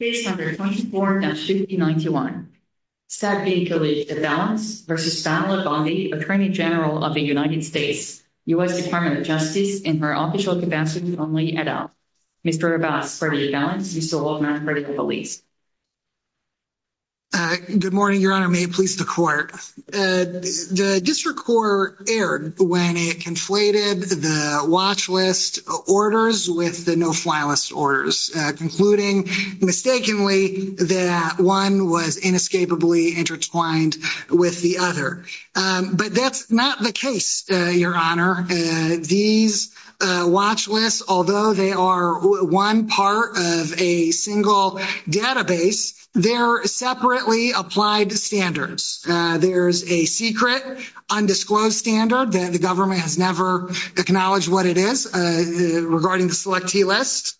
Based under 24-591, Saad Khalid de Valens v. Pamela Bondi, Attorney General of the United States, U.S. Department of Justice, in her official capacity only, et al. Mr. de Valens, you still hold non-critical beliefs. Good morning, Your Honor. May it please the Court. The District Court erred when it conflated the watch list orders with the no-file list orders, concluding mistakenly that one was inescapably intertwined with the other. But that's not the case, Your Honor. These watch lists, although they are one part of a single database, they're separately applied standards. There's a secret, undisclosed standard that the government has never acknowledged what it is regarding the selectee list.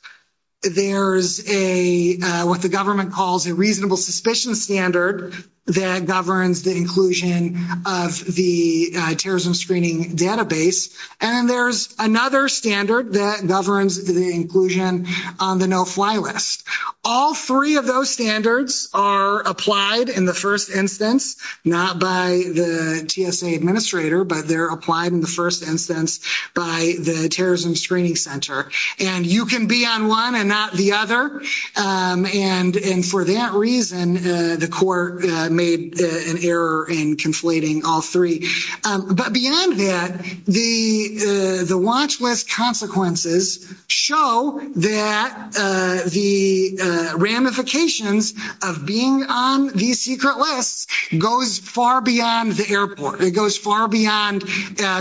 There's what the government calls a reasonable suspicion standard that governs the inclusion of the terrorism screening database. And there's another standard that governs the inclusion on the no-fly list. All three of those standards are applied in the first instance, not by the TSA administrator, but they're applied in the first instance by the Terrorism Screening Center. And you can be on one and not the other. And for that reason, the Court made an error in conflating all three. But beyond that, the watch list consequences show that the ramifications of being on these secret lists goes far beyond the airport. It goes far beyond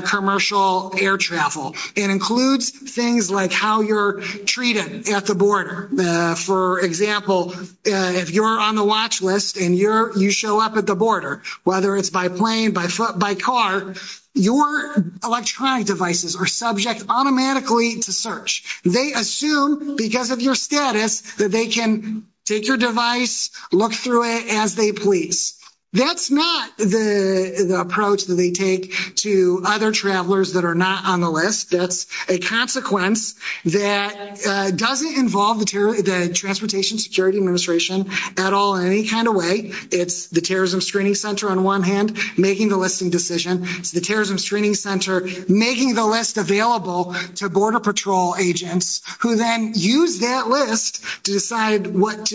commercial air travel. It includes things like how you're treated at the border. For example, if you're on the watch list and you show up at the border, whether it's by plane, by car, your electronic devices are subject automatically to search. They assume, because of your status, that they can take your device, look through it as they please. That's not the approach that they take to other travelers that are not on the list. That's a consequence that doesn't involve the Transportation Security Administration at all in any kind of way. It's the Terrorism Screening Center on one hand making the listing decision. It's the Terrorism Screening Center making the list available to border patrol agents who then use that list to decide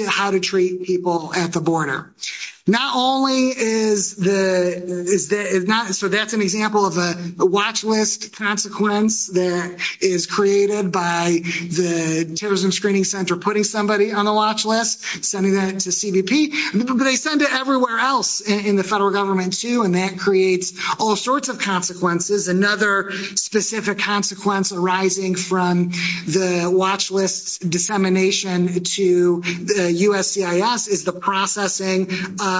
how to treat people at the border. So that's an example of a watch list consequence that is created by the Terrorism Screening Center putting somebody on the watch list, sending that to CBP. But they send it everywhere else in the federal government too, and that creates all sorts of consequences. Another specific consequence arising from the watch list dissemination to the USCIS is the processing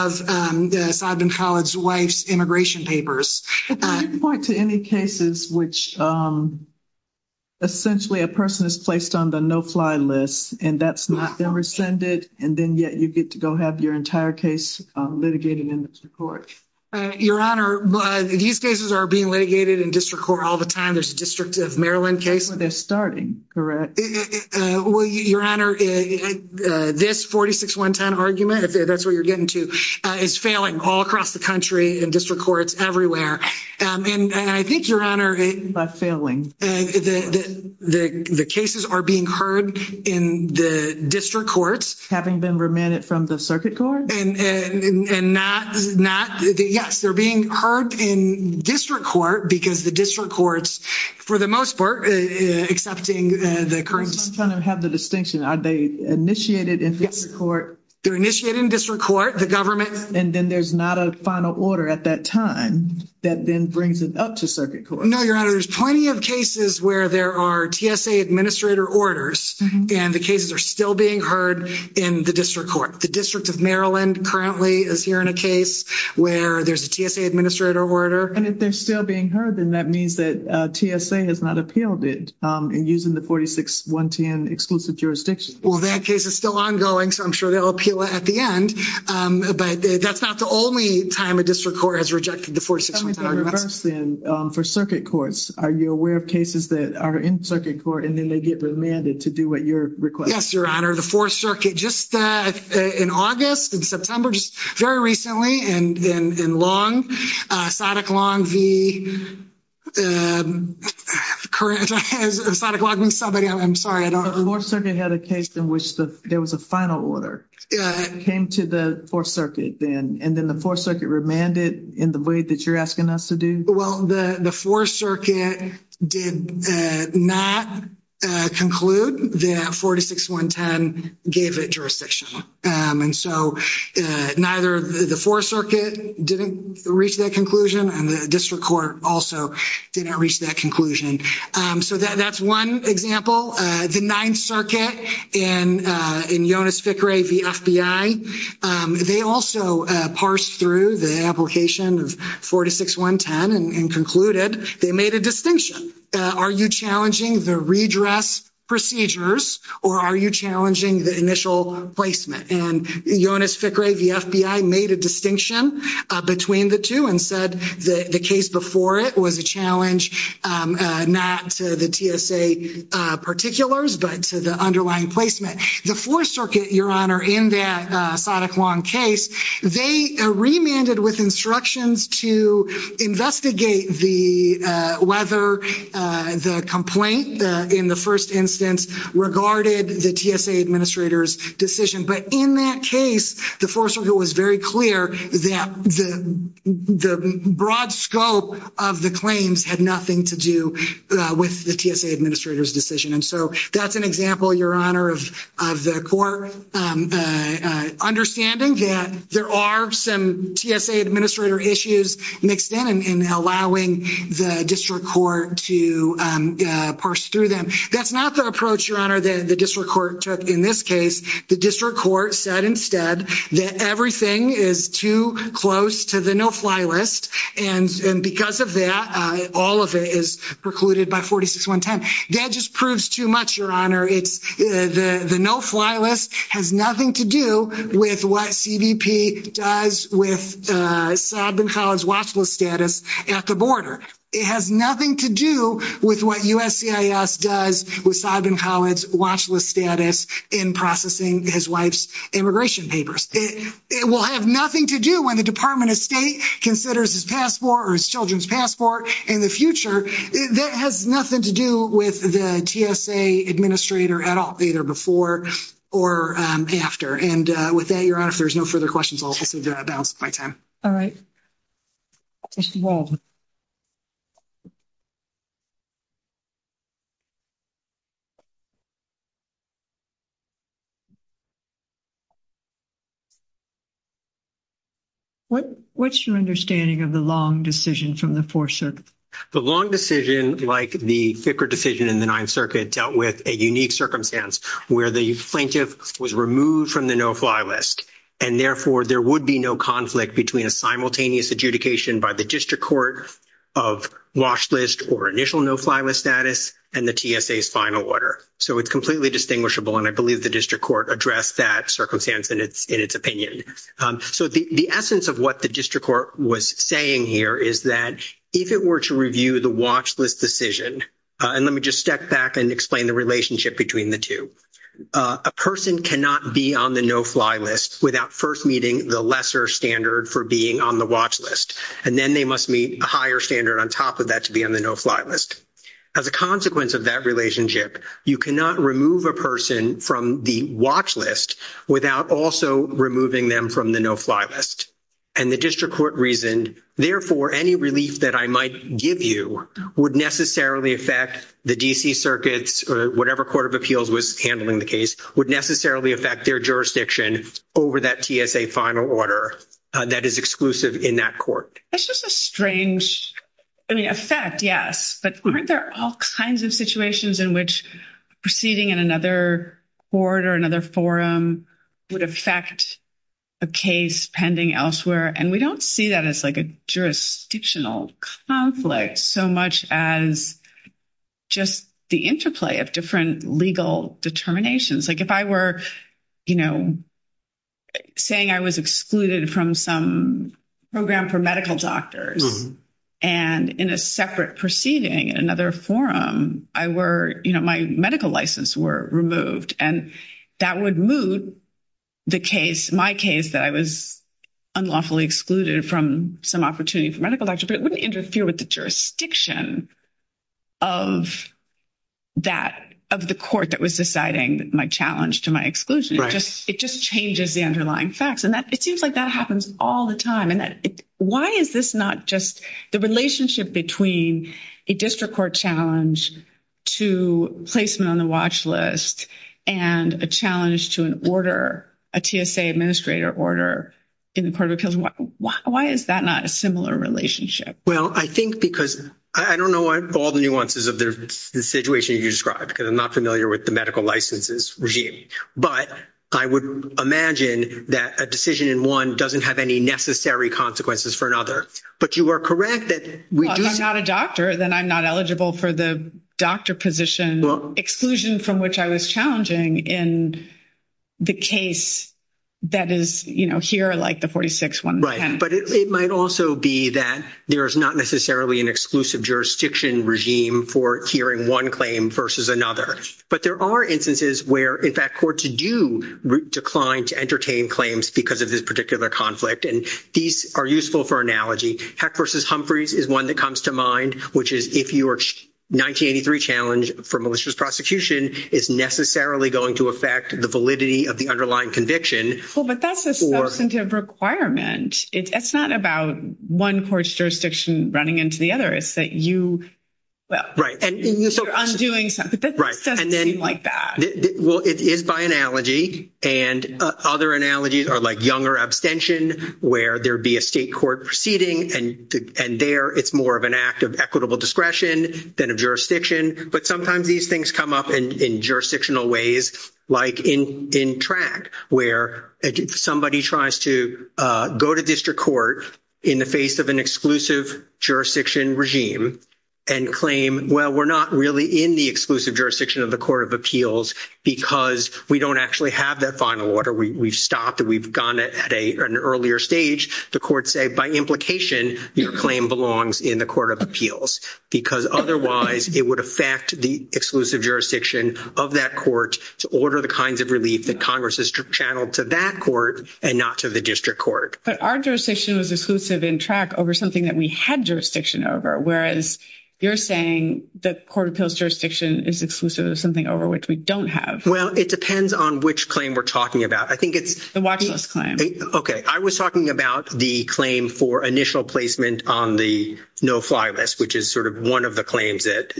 of the Sodman College wife's immigration papers. Can you point to any cases which essentially a person is placed on the no-fly list and that's not been rescinded, and then yet you get to go have your entire case litigated in the court? Your Honor, these cases are being litigated in district court all the time. There's a District of Maryland case. They're starting, correct? Well, Your Honor, this 46-110 argument, if that's what you're getting to, is failing all across the country in district courts everywhere. And I think, Your Honor, the cases are being heard in the district courts. Having been remanded from the circuit court? Yes, they're being heard in district court because the district courts, for the most part, accepting the current… I'm just trying to have the distinction. Are they initiated in district court? They're initiated in district court. The government… And then there's not a final order at that time that then brings it up to circuit court. No, Your Honor, there's plenty of cases where there are TSA administrator orders, and the cases are still being heard in the district court. The District of Maryland currently is hearing a case where there's a TSA administrator order. And if they're still being heard, then that means that TSA has not appealed it in using the 46-110 exclusive jurisdiction. Well, that case is still ongoing, so I'm sure they'll appeal it at the end. But that's not the only time a district court has rejected the 46-110 request. Tell me the reverse, then, for circuit courts. Are you aware of cases that are in circuit court, and then they get remanded to do what you're requesting? Yes, Your Honor. The Fourth Circuit, just in August, in September, just very recently, in Long, Sadiq Long v.… Sadiq Long v. somebody, I'm sorry, I don't… The Fourth Circuit had a case in which there was a final order that came to the Fourth Circuit then, and then the Fourth Circuit remanded in the way that you're asking us to do? Well, the Fourth Circuit did not conclude that 46-110 gave it jurisdiction. And so neither the Fourth Circuit didn't reach that conclusion, and the district court also didn't reach that conclusion. So that's one example. The Ninth Circuit in Jonas Fickrey v. FBI, they also parsed through the application of 46-110 and concluded they made a distinction. Are you challenging the redress procedures, or are you challenging the initial placement? And Jonas Fickrey v. FBI made a distinction between the two and said the case before it was a challenge not to the TSA particulars, but to the underlying placement. The Fourth Circuit, Your Honor, in that Sadiq Long case, they remanded with instructions to investigate whether the complaint in the first instance regarded the TSA administrator's decision. But in that case, the Fourth Circuit was very clear that the broad scope of the claims had nothing to do with the TSA administrator's decision. And so that's an example, Your Honor, of the court understanding that there are some TSA administrator issues mixed in and allowing the district court to parse through them. That's not the approach, Your Honor, that the district court took in this case. The district court said instead that everything is too close to the no-fly list, and because of that, all of it is precluded by 46-110. That just proves too much, Your Honor. The no-fly list has nothing to do with what CBP does with Sodman College watchlist status at the border. It has nothing to do with what USCIS does with Sodman College watchlist status in processing his wife's immigration papers. It will have nothing to do when the Department of State considers his passport or his children's passport in the future. That has nothing to do with the TSA administrator at all, either before or after. And with that, Your Honor, if there's no further questions, I'll also balance my time. All right. Mr. Waldman. What's your understanding of the long decision from the Fourth Circuit? The long decision, like the thicker decision in the Ninth Circuit, dealt with a unique circumstance where the plaintiff was removed from the no-fly list, and therefore there would be no conflict between a simultaneous adjudication by the district court of watchlist or initial no-fly list status and the TSA's final order. So it's completely distinguishable, and I believe the district court addressed that circumstance in its opinion. So the essence of what the district court was saying here is that if it were to review the watchlist decision, and let me just step back and explain the relationship between the two. A person cannot be on the no-fly list without first meeting the lesser standard for being on the watchlist, and then they must meet a higher standard on top of that to be on the no-fly list. As a consequence of that relationship, you cannot remove a person from the watchlist without also removing them from the no-fly list. And the district court reasoned, therefore, any relief that I might give you would necessarily affect the D.C. Circuits, or whatever court of appeals was handling the case, would necessarily affect their jurisdiction over that TSA final order that is exclusive in that court. That's just a strange effect, yes. But aren't there all kinds of situations in which proceeding in another court or another forum would affect a case pending elsewhere? And we don't see that as like a jurisdictional conflict so much as just the interplay of different legal determinations. Like if I were, you know, saying I was excluded from some program for medical doctors, and in a separate proceeding in another forum, I were, you know, my medical license were removed, and that would move the case, my case, that I was unlawfully excluded from some opportunity for medical doctor, but it wouldn't interfere with the jurisdiction of the court that was deciding my challenge to my exclusion. It just changes the underlying facts. And it seems like that happens all the time. And why is this not just the relationship between a district court challenge to placement on the watchlist and a challenge to an order, a TSA administrator order in the court of appeals? Why is that not a similar relationship? Well, I think because I don't know all the nuances of the situation you described, because I'm not familiar with the medical licenses regime, but I would imagine that a decision in one doesn't have any necessary consequences for another. But you are correct that we do see – in the case that is, you know, here like the 46-110. Right, but it might also be that there is not necessarily an exclusive jurisdiction regime for hearing one claim versus another. But there are instances where, in fact, courts do decline to entertain claims because of this particular conflict, and these are useful for analogy. Heck versus Humphreys is one that comes to mind, which is if your 1983 challenge for malicious prosecution is necessarily going to affect the validity of the underlying conviction. Well, but that's a substantive requirement. It's not about one court's jurisdiction running into the other. It's that you – well, you're undoing something, but this doesn't seem like that. Well, it is by analogy. And other analogies are like younger abstention, where there would be a state court proceeding, and there it's more of an act of equitable discretion than of jurisdiction. But sometimes these things come up in jurisdictional ways, like in track, where somebody tries to go to district court in the face of an exclusive jurisdiction regime and claim, well, we're not really in the exclusive jurisdiction of the court of appeals because we don't actually have that final order. We've stopped and we've gone at an earlier stage. The courts say, by implication, your claim belongs in the court of appeals, because otherwise it would affect the exclusive jurisdiction of that court to order the kinds of relief that Congress has channeled to that court and not to the district court. But our jurisdiction was exclusive in track over something that we had jurisdiction over, whereas you're saying the court of appeals jurisdiction is exclusive of something over which we don't have. Well, it depends on which claim we're talking about. I think it's – The watch list claim. Okay. I was talking about the claim for initial placement on the no-fly list, which is sort of one of the claims that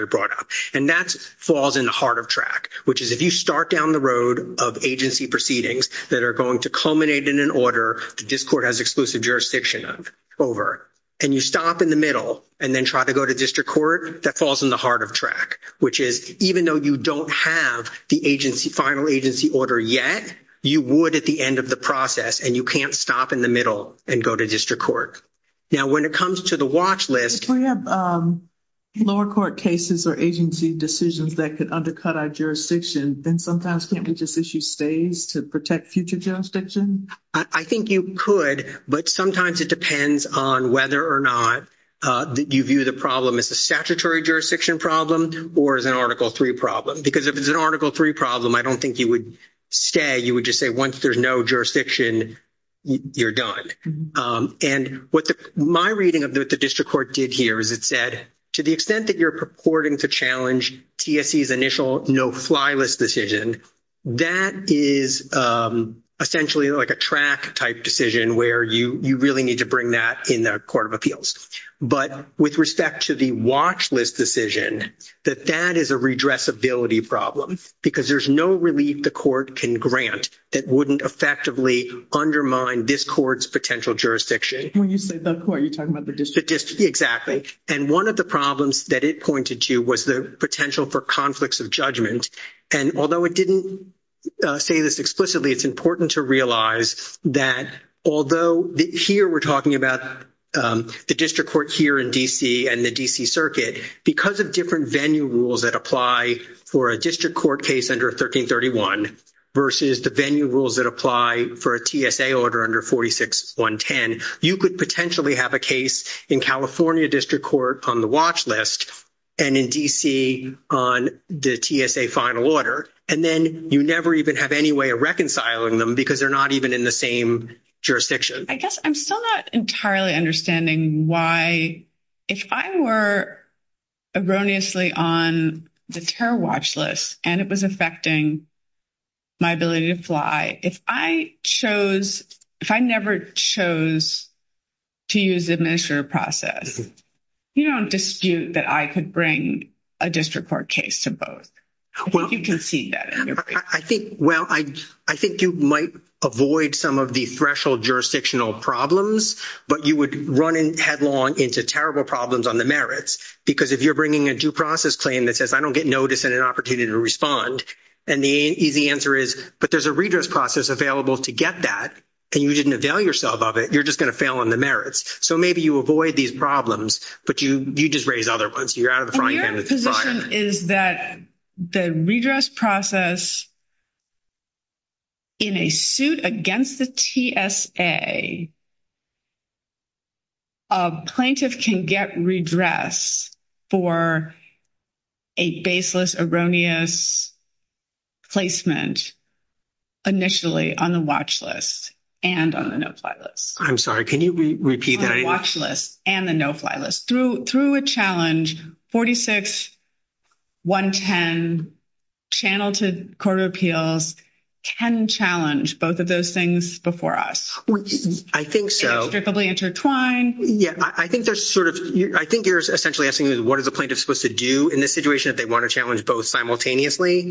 I brought up. And that falls in the heart of track, which is if you start down the road of agency proceedings that are going to culminate in an order the district court has exclusive jurisdiction of over, and you stop in the middle and then try to go to district court, that falls in the heart of track, which is even though you don't have the agency – final agency order yet, you would at the end of the process, and you can't stop in the middle and go to district court. Now, when it comes to the watch list – If we have lower court cases or agency decisions that could undercut our jurisdiction, then sometimes can't we just issue stays to protect future jurisdiction? I think you could, but sometimes it depends on whether or not you view the problem as a statutory jurisdiction problem or as an Article III problem. Because if it's an Article III problem, I don't think you would stay. You would just say once there's no jurisdiction, you're done. And what my reading of what the district court did here is it said, to the extent that you're purporting to challenge TSE's initial no-fly list decision, that is essentially like a track-type decision where you really need to bring that in the Court of Appeals. But with respect to the watch list decision, that that is a redressability problem because there's no relief the court can grant that wouldn't effectively undermine this court's potential jurisdiction. When you say the court, are you talking about the district? The district, exactly. And one of the problems that it pointed to was the potential for conflicts of judgment. And although it didn't say this explicitly, it's important to realize that although here we're talking about the district court here in D.C. and the D.C. Circuit, because of different venue rules that apply for a district court case under 1331 versus the venue rules that apply for a TSA order under 46110, you could potentially have a case in California district court on the watch list and in D.C. on the TSA final order. And then you never even have any way of reconciling them because they're not even in the same jurisdiction. I guess I'm still not entirely understanding why if I were erroneously on the terror watch list and it was affecting my ability to fly, if I chose, if I never chose to use the administrative process, you don't dispute that I could bring a district court case to both. I think you can see that in your case. Well, I think you might avoid some of the threshold jurisdictional problems, but you would run headlong into terrible problems on the merits because if you're bringing a due process claim that says I don't get notice and an opportunity to respond, and the easy answer is, but there's a redress process available to get that, and you didn't avail yourself of it, you're just going to fail on the merits. So maybe you avoid these problems, but you just raise other ones. Your position is that the redress process in a suit against the TSA, a plaintiff can get redress for a baseless, erroneous placement initially on the watch list and on the no-fly list. I'm sorry, can you repeat that? On the watch list and the no-fly list. Through a challenge, 46-110 channel to court of appeals can challenge both of those things before us. I think so. Inextricably intertwined. Yeah, I think you're essentially asking what is a plaintiff supposed to do in this situation if they want to challenge both simultaneously?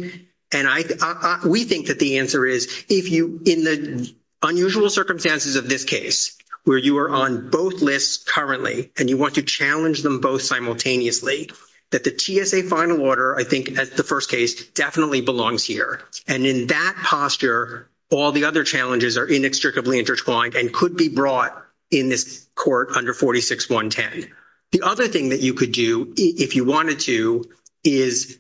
We think that the answer is, in the unusual circumstances of this case, where you are on both lists currently and you want to challenge them both simultaneously, that the TSA final order, I think, at the first case, definitely belongs here. And in that posture, all the other challenges are inextricably intertwined and could be brought in this court under 46-110. The other thing that you could do, if you wanted to, is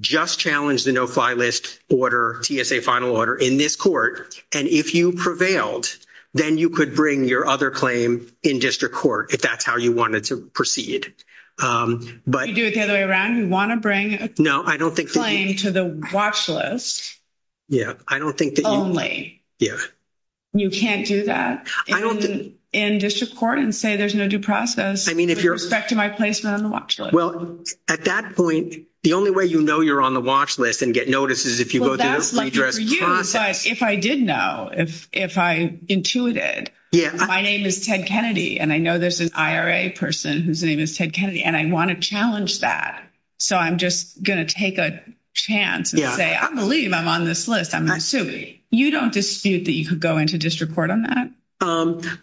just challenge the no-fly list order, TSA final order, in this court. And if you prevailed, then you could bring your other claim in district court, if that's how you wanted to proceed. You do it the other way around? You want to bring a claim to the watch list only? Yeah. You can't do that in district court and say there's no due process, with respect to my placement on the watch list. Well, at that point, the only way you know you're on the watch list and get notices is if you go through the redress process. Well, that's lucky for you. If I did know, if I intuited, my name is Ted Kennedy, and I know there's an IRA person whose name is Ted Kennedy, and I want to challenge that. So I'm just going to take a chance and say, I believe I'm on this list. You don't dispute that you could go into district court on that?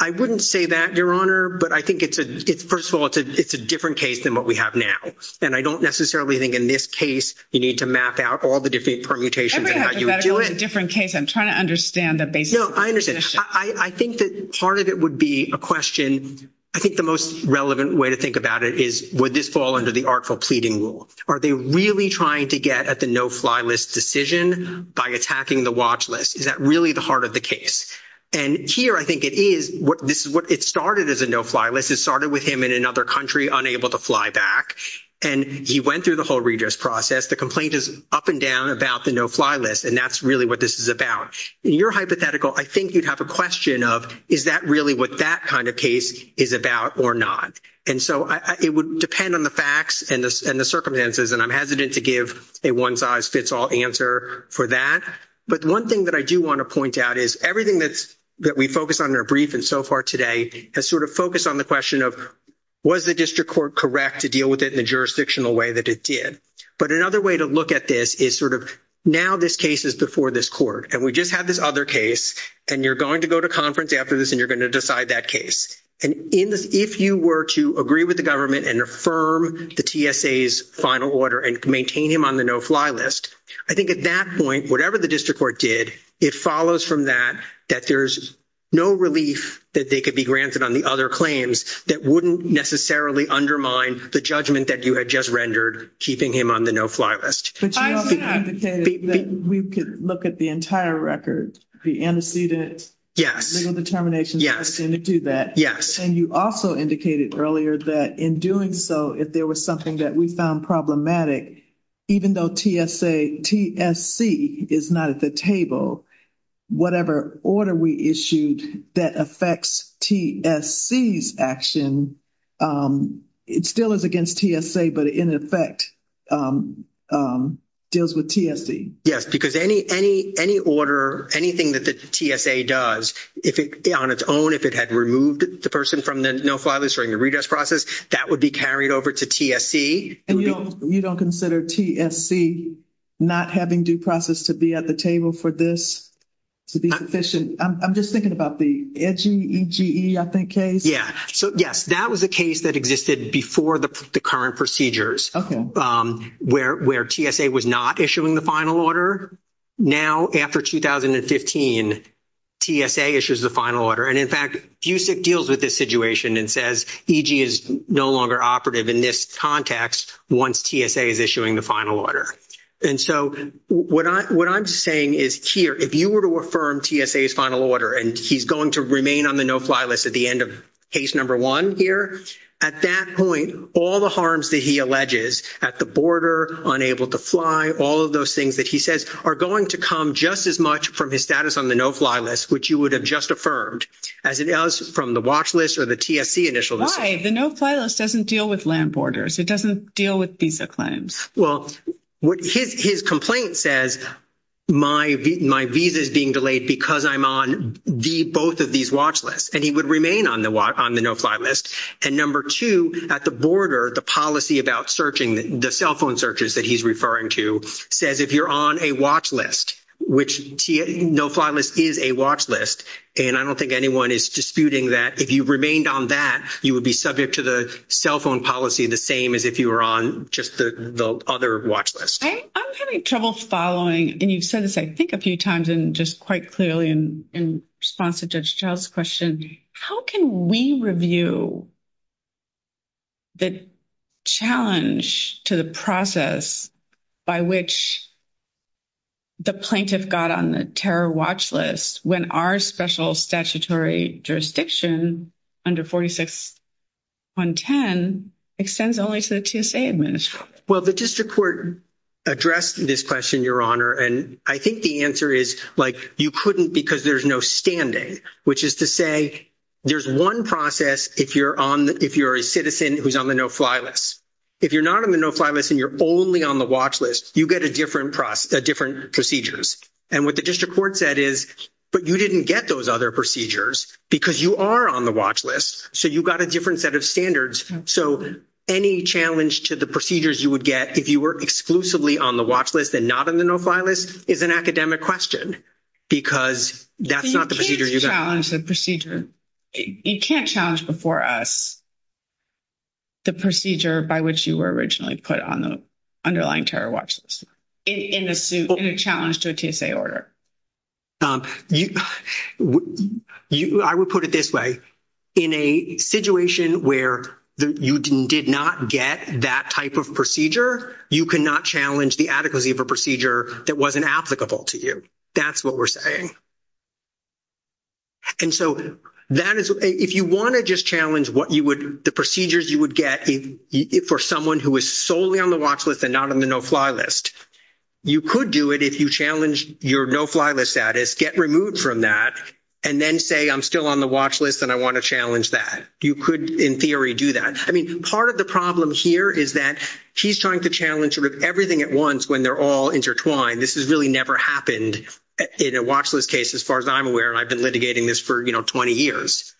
I wouldn't say that, Your Honor. But I think, first of all, it's a different case than what we have now. And I don't necessarily think in this case you need to map out all the different permutations and how you would do it. Every hypothetical is a different case. I'm trying to understand the basic proposition. No, I understand. I think that part of it would be a question. I think the most relevant way to think about it is, would this fall under the artful pleading rule? Are they really trying to get at the no-fly list decision by attacking the watch list? Is that really the heart of the case? And here I think it is. It started as a no-fly list. It started with him in another country unable to fly back, and he went through the whole redress process. The complaint is up and down about the no-fly list, and that's really what this is about. In your hypothetical, I think you'd have a question of, is that really what that kind of case is about or not? It would depend on the facts and the circumstances, and I'm hesitant to give a one-size-fits-all answer for that. But one thing that I do want to point out is, everything that we focused on in our brief and so far today has sort of focused on the question of, was the district court correct to deal with it in the jurisdictional way that it did? But another way to look at this is sort of, now this case is before this court, and we just have this other case, and you're going to go to conference after this, and you're going to decide that case. And if you were to agree with the government and affirm the TSA's final order and maintain him on the no-fly list, I think at that point, whatever the district court did, it follows from that, that there's no relief that they could be granted on the other claims that wouldn't necessarily undermine the judgment that you had just rendered, keeping him on the no-fly list. But you also indicated that we could look at the entire record, the antecedent, legal determination, to do that. And you also indicated earlier that in doing so, if there was something that we found problematic, even though TSC is not at the table, whatever order we issued that affects TSC's action, it still is against TSA, but in effect deals with TSC. Yes, because any order, anything that the TSA does on its own, if it had removed the person from the no-fly list during the redress process, that would be carried over to TSC. And you don't consider TSC not having due process to be at the table for this to be sufficient? I'm just thinking about the EGE, I think, case. Yeah. So, yes, that was a case that existed before the current procedures where TSA was not But after 2015, TSA issues the final order. And in fact, FUSIC deals with this situation and says EG is no longer operative in this context once TSA is issuing the final order. And so what I'm saying is here, if you were to affirm TSA's final order and he's going to remain on the no-fly list at the end of case number one here, at that point, all the harms that he alleges at the border, unable to fly, all of those things that he says are going to come just as much from his status on the no-fly list, which you would have just affirmed as it does from the watch list or the TSC initial decision. Why? The no-fly list doesn't deal with land borders. It doesn't deal with visa claims. Well, his complaint says, my visa is being delayed because I'm on both of these watch lists. And he would remain on the no-fly list. And number two, at the border, the policy about searching the cell phone searches that he's referring to says, if you're on a watch list, which no-fly list is a watch list. And I don't think anyone is disputing that. If you remained on that, you would be subject to the cell phone policy the same as if you were on just the other watch list. I'm having trouble following. And you've said this, I think, a few times and just quite clearly in response to Judge Child's question, how can we review the challenge to the process by which the plaintiff got on the terror watch list when our special statutory jurisdiction under 46-110 extends only to the TSA administration? Well, the district court addressed this question, Your Honor. And I think the answer is like you couldn't because there's no standing, which is to say there's one process if you're a citizen who's on the no-fly list. If you're not on the no-fly list and you're only on the watch list, you get a different procedure. And what the district court said is, but you didn't get those other procedures because you are on the watch list. So you got a different set of standards. So any challenge to the procedures you would get if you were exclusively on the watch list and not on the no-fly list is an academic question because that's not the procedure you got. You can't challenge the procedure. You can't challenge before us the procedure by which you were originally put on the underlying terror watch list in a challenge to a TSA order. I would put it this way. In a situation where you did not get that type of procedure, you cannot challenge the adequacy of a procedure that wasn't applicable to you. That's what we're saying. And so if you want to just challenge the procedures you would get for someone who is solely on the watch list and not on the no-fly list, you could do it if you challenge your no-fly list status, get removed from that, and then say, I'm still on the watch list and I want to challenge that. You could, in theory, do that. I mean, part of the problem here is that she's trying to challenge everything at once when they're all intertwined. This has really never happened in a watch list case as far as I'm aware, and I've been litigating this for, you know, 20 years.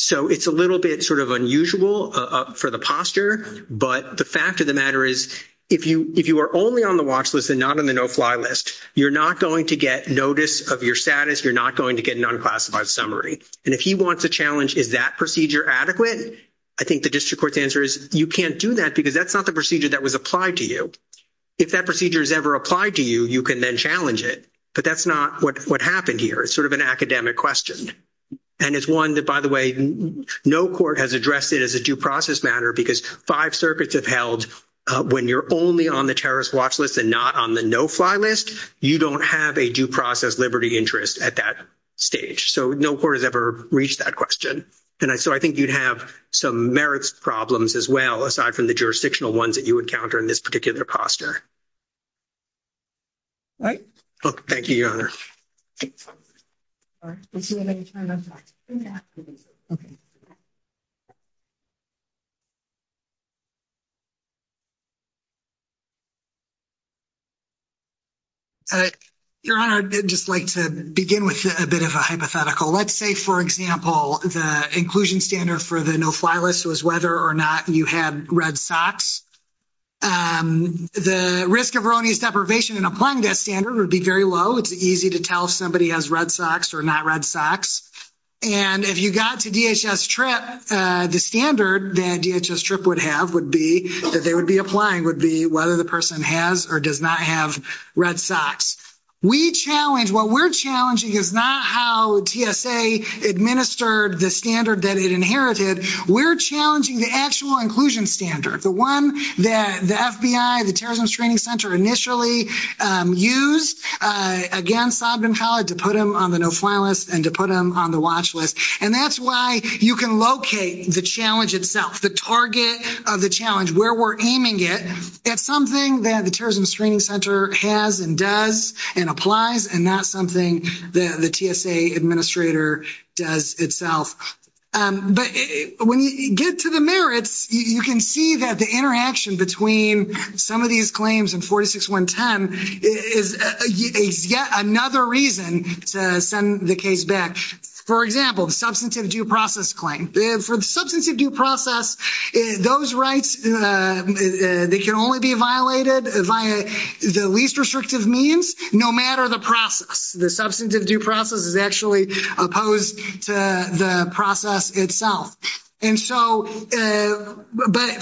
So it's a little bit sort of unusual for the posture, but the fact of the matter is if you are only on the watch list and not on the no-fly list, you're not going to get notice of your status. You're not going to get an unclassified summary. And if he wants to challenge is that procedure adequate, I think the district court's answer is you can't do that because that's not the procedure that was applied to you. If that procedure is ever applied to you, you can then challenge it, but that's not what happened here. It's sort of an academic question. And it's one that, by the way, no court has addressed it as a due process matter because five circuits have held when you're only on the terrorist watch list and not on the no-fly list, you don't have a due process liberty interest at that stage. So no court has ever reached that question. And so I think you'd have some merits problems as well, aside from the jurisdictional ones that you encounter in this particular posture. All right. Thank you, Your Honor. Your Honor, I'd just like to begin with a bit of a hypothetical. Let's say for example, the inclusion standard for the no-fly list was whether or not you had red socks. The risk of erroneous deprivation in applying that standard would be very low. It's easy to tell if somebody has red socks or not red socks. And if you got to DHS TRIP, the standard that DHS TRIP would have would be that they would be applying would be whether the person has or does not have red socks. We challenge, what we're challenging is not how TSA administered the standard that it inherited. We're challenging the actual inclusion standard, the one that the FBI, the Terrorism Screening Center initially used against Sobden College to put them on the no-fly list and to put them on the watch list. And that's why you can locate the challenge itself, the target of the challenge, where we're aiming it at something that the Terrorism Screening Center has and does and applies and not something that the TSA administrator does itself. But when you get to the merits, you can see that the interaction between some of these claims in 46110 is yet another reason to send the case back. For example, the substantive due process claim. For the substantive due process, those rights, they can only be violated via the least restrictive means, no matter the process. The substantive due process is actually opposed to the process itself. But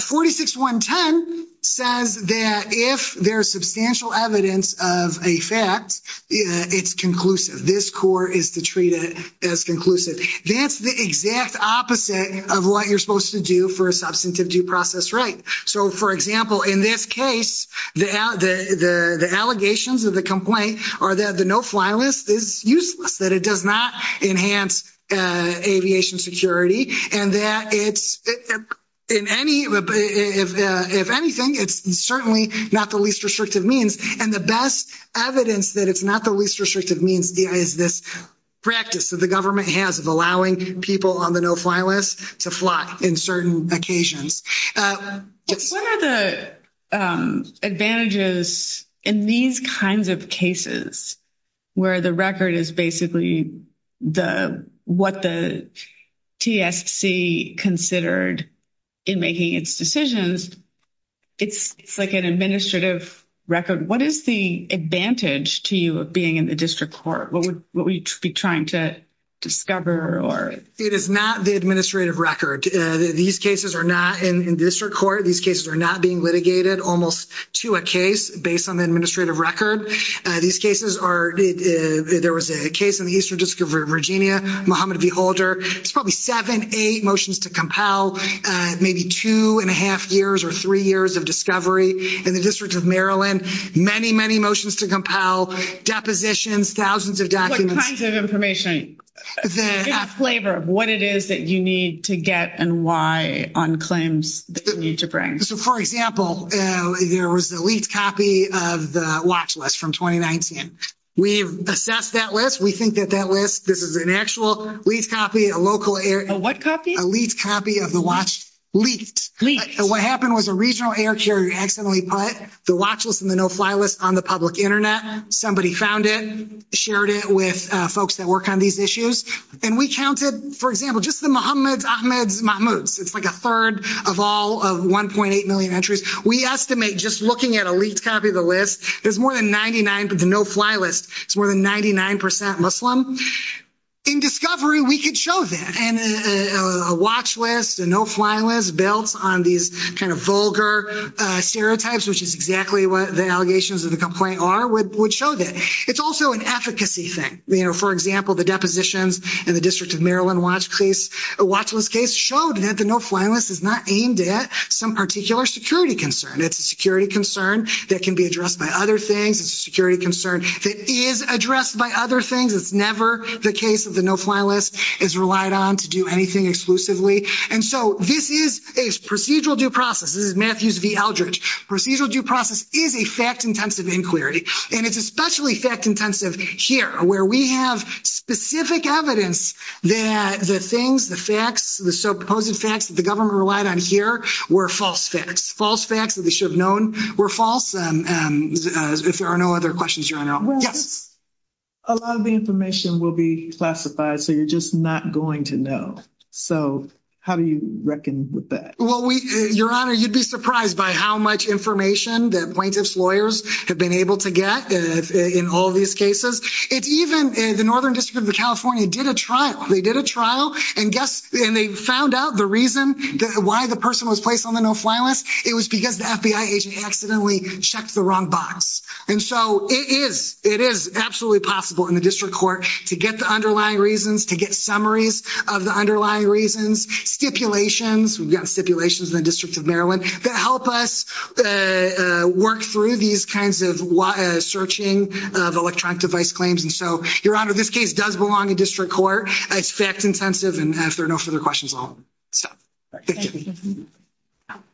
46110 says that if there's substantial evidence of a fact, it's conclusive. This court is to treat it as conclusive. That's the exact opposite of what you're supposed to do for a substantive due process right. So for example, in this case, the allegations of the complaint are that the no-fly list is useless, that it does not enhance aviation security and that if anything, it's certainly not the least restrictive means. And the best evidence that it's not the least restrictive means is this practice that the government has of allowing people on the no-fly list to fly up in certain occasions. What are the advantages in these kinds of cases where the record is basically what the TSC considered in making its decisions? It's like an administrative record. What is the advantage to you of being in the district court? What would you be trying to discover? It is not the administrative record. These cases are not in district court. These cases are not being litigated almost to a case based on the administrative record. There was a case in the Eastern District of Virginia, Mohammed V. Holder. It's probably seven, eight motions to compel, maybe two and a half years or three years of discovery in the District of Maryland. Many, many motions to compel, depositions, thousands of documents. All kinds of information, flavor of what it is that you need to get and why on claims that you need to bring. For example, there was a leaked copy of the watch list from 2019. We've assessed that list. We think that that list, this is an actual leaked copy of the watch leaked. What happened was a regional air carrier accidentally put the watch list and the no-fly list on the public internet. Somebody found it, shared it with folks that work on these issues. And we counted, for example, just the Mohammeds, Ahmeds, Mahmoods. It's like a third of all of 1.8 million entries. We estimate just looking at a leaked copy of the list, there's more than 99, but the no-fly list, it's more than 99% Muslim. In discovery, we could show that. And a watch list, a no-fly list built on these kind of vulgar stereotypes, which is exactly what the allegations of the complaint are, would show that. It's also an efficacy thing. For example, the depositions in the district of Maryland watch list case showed that the no-fly list is not aimed at some particular security concern. It's a security concern that can be addressed by other things. It's a security concern that is addressed by other things. It's never the case that the no-fly list is relied on to do anything exclusively. And so this is a procedural due process. This is Matthews v. Eldridge. Procedural due process is a fact-intensive inquiry, and it's especially fact-intensive here, where we have specific evidence that the things, the facts, the supposed facts that the government relied on here were false facts, false facts that they should have known were false. If there are no other questions, Your Honor. Yes. A lot of the information will be classified, so you're just not going to know. So how do you reckon with that? Well, Your Honor, you'd be surprised by how much information that plaintiff's lawyers have been able to get in all of these cases. It's even the Northern District of California did a trial. They did a trial and they found out the reason why the person was placed on the no-fly list. It was because the FBI agent accidentally checked the wrong box. And so it is absolutely possible in the district court to get the underlying reasons, to get summaries of the underlying reasons, stipulations. We've got stipulations in the District of Maryland that help us work through these kinds of searching of electronic device claims. And so Your Honor, this case does belong in district court. It's fact intensive. And if there are no further questions, I'll stop.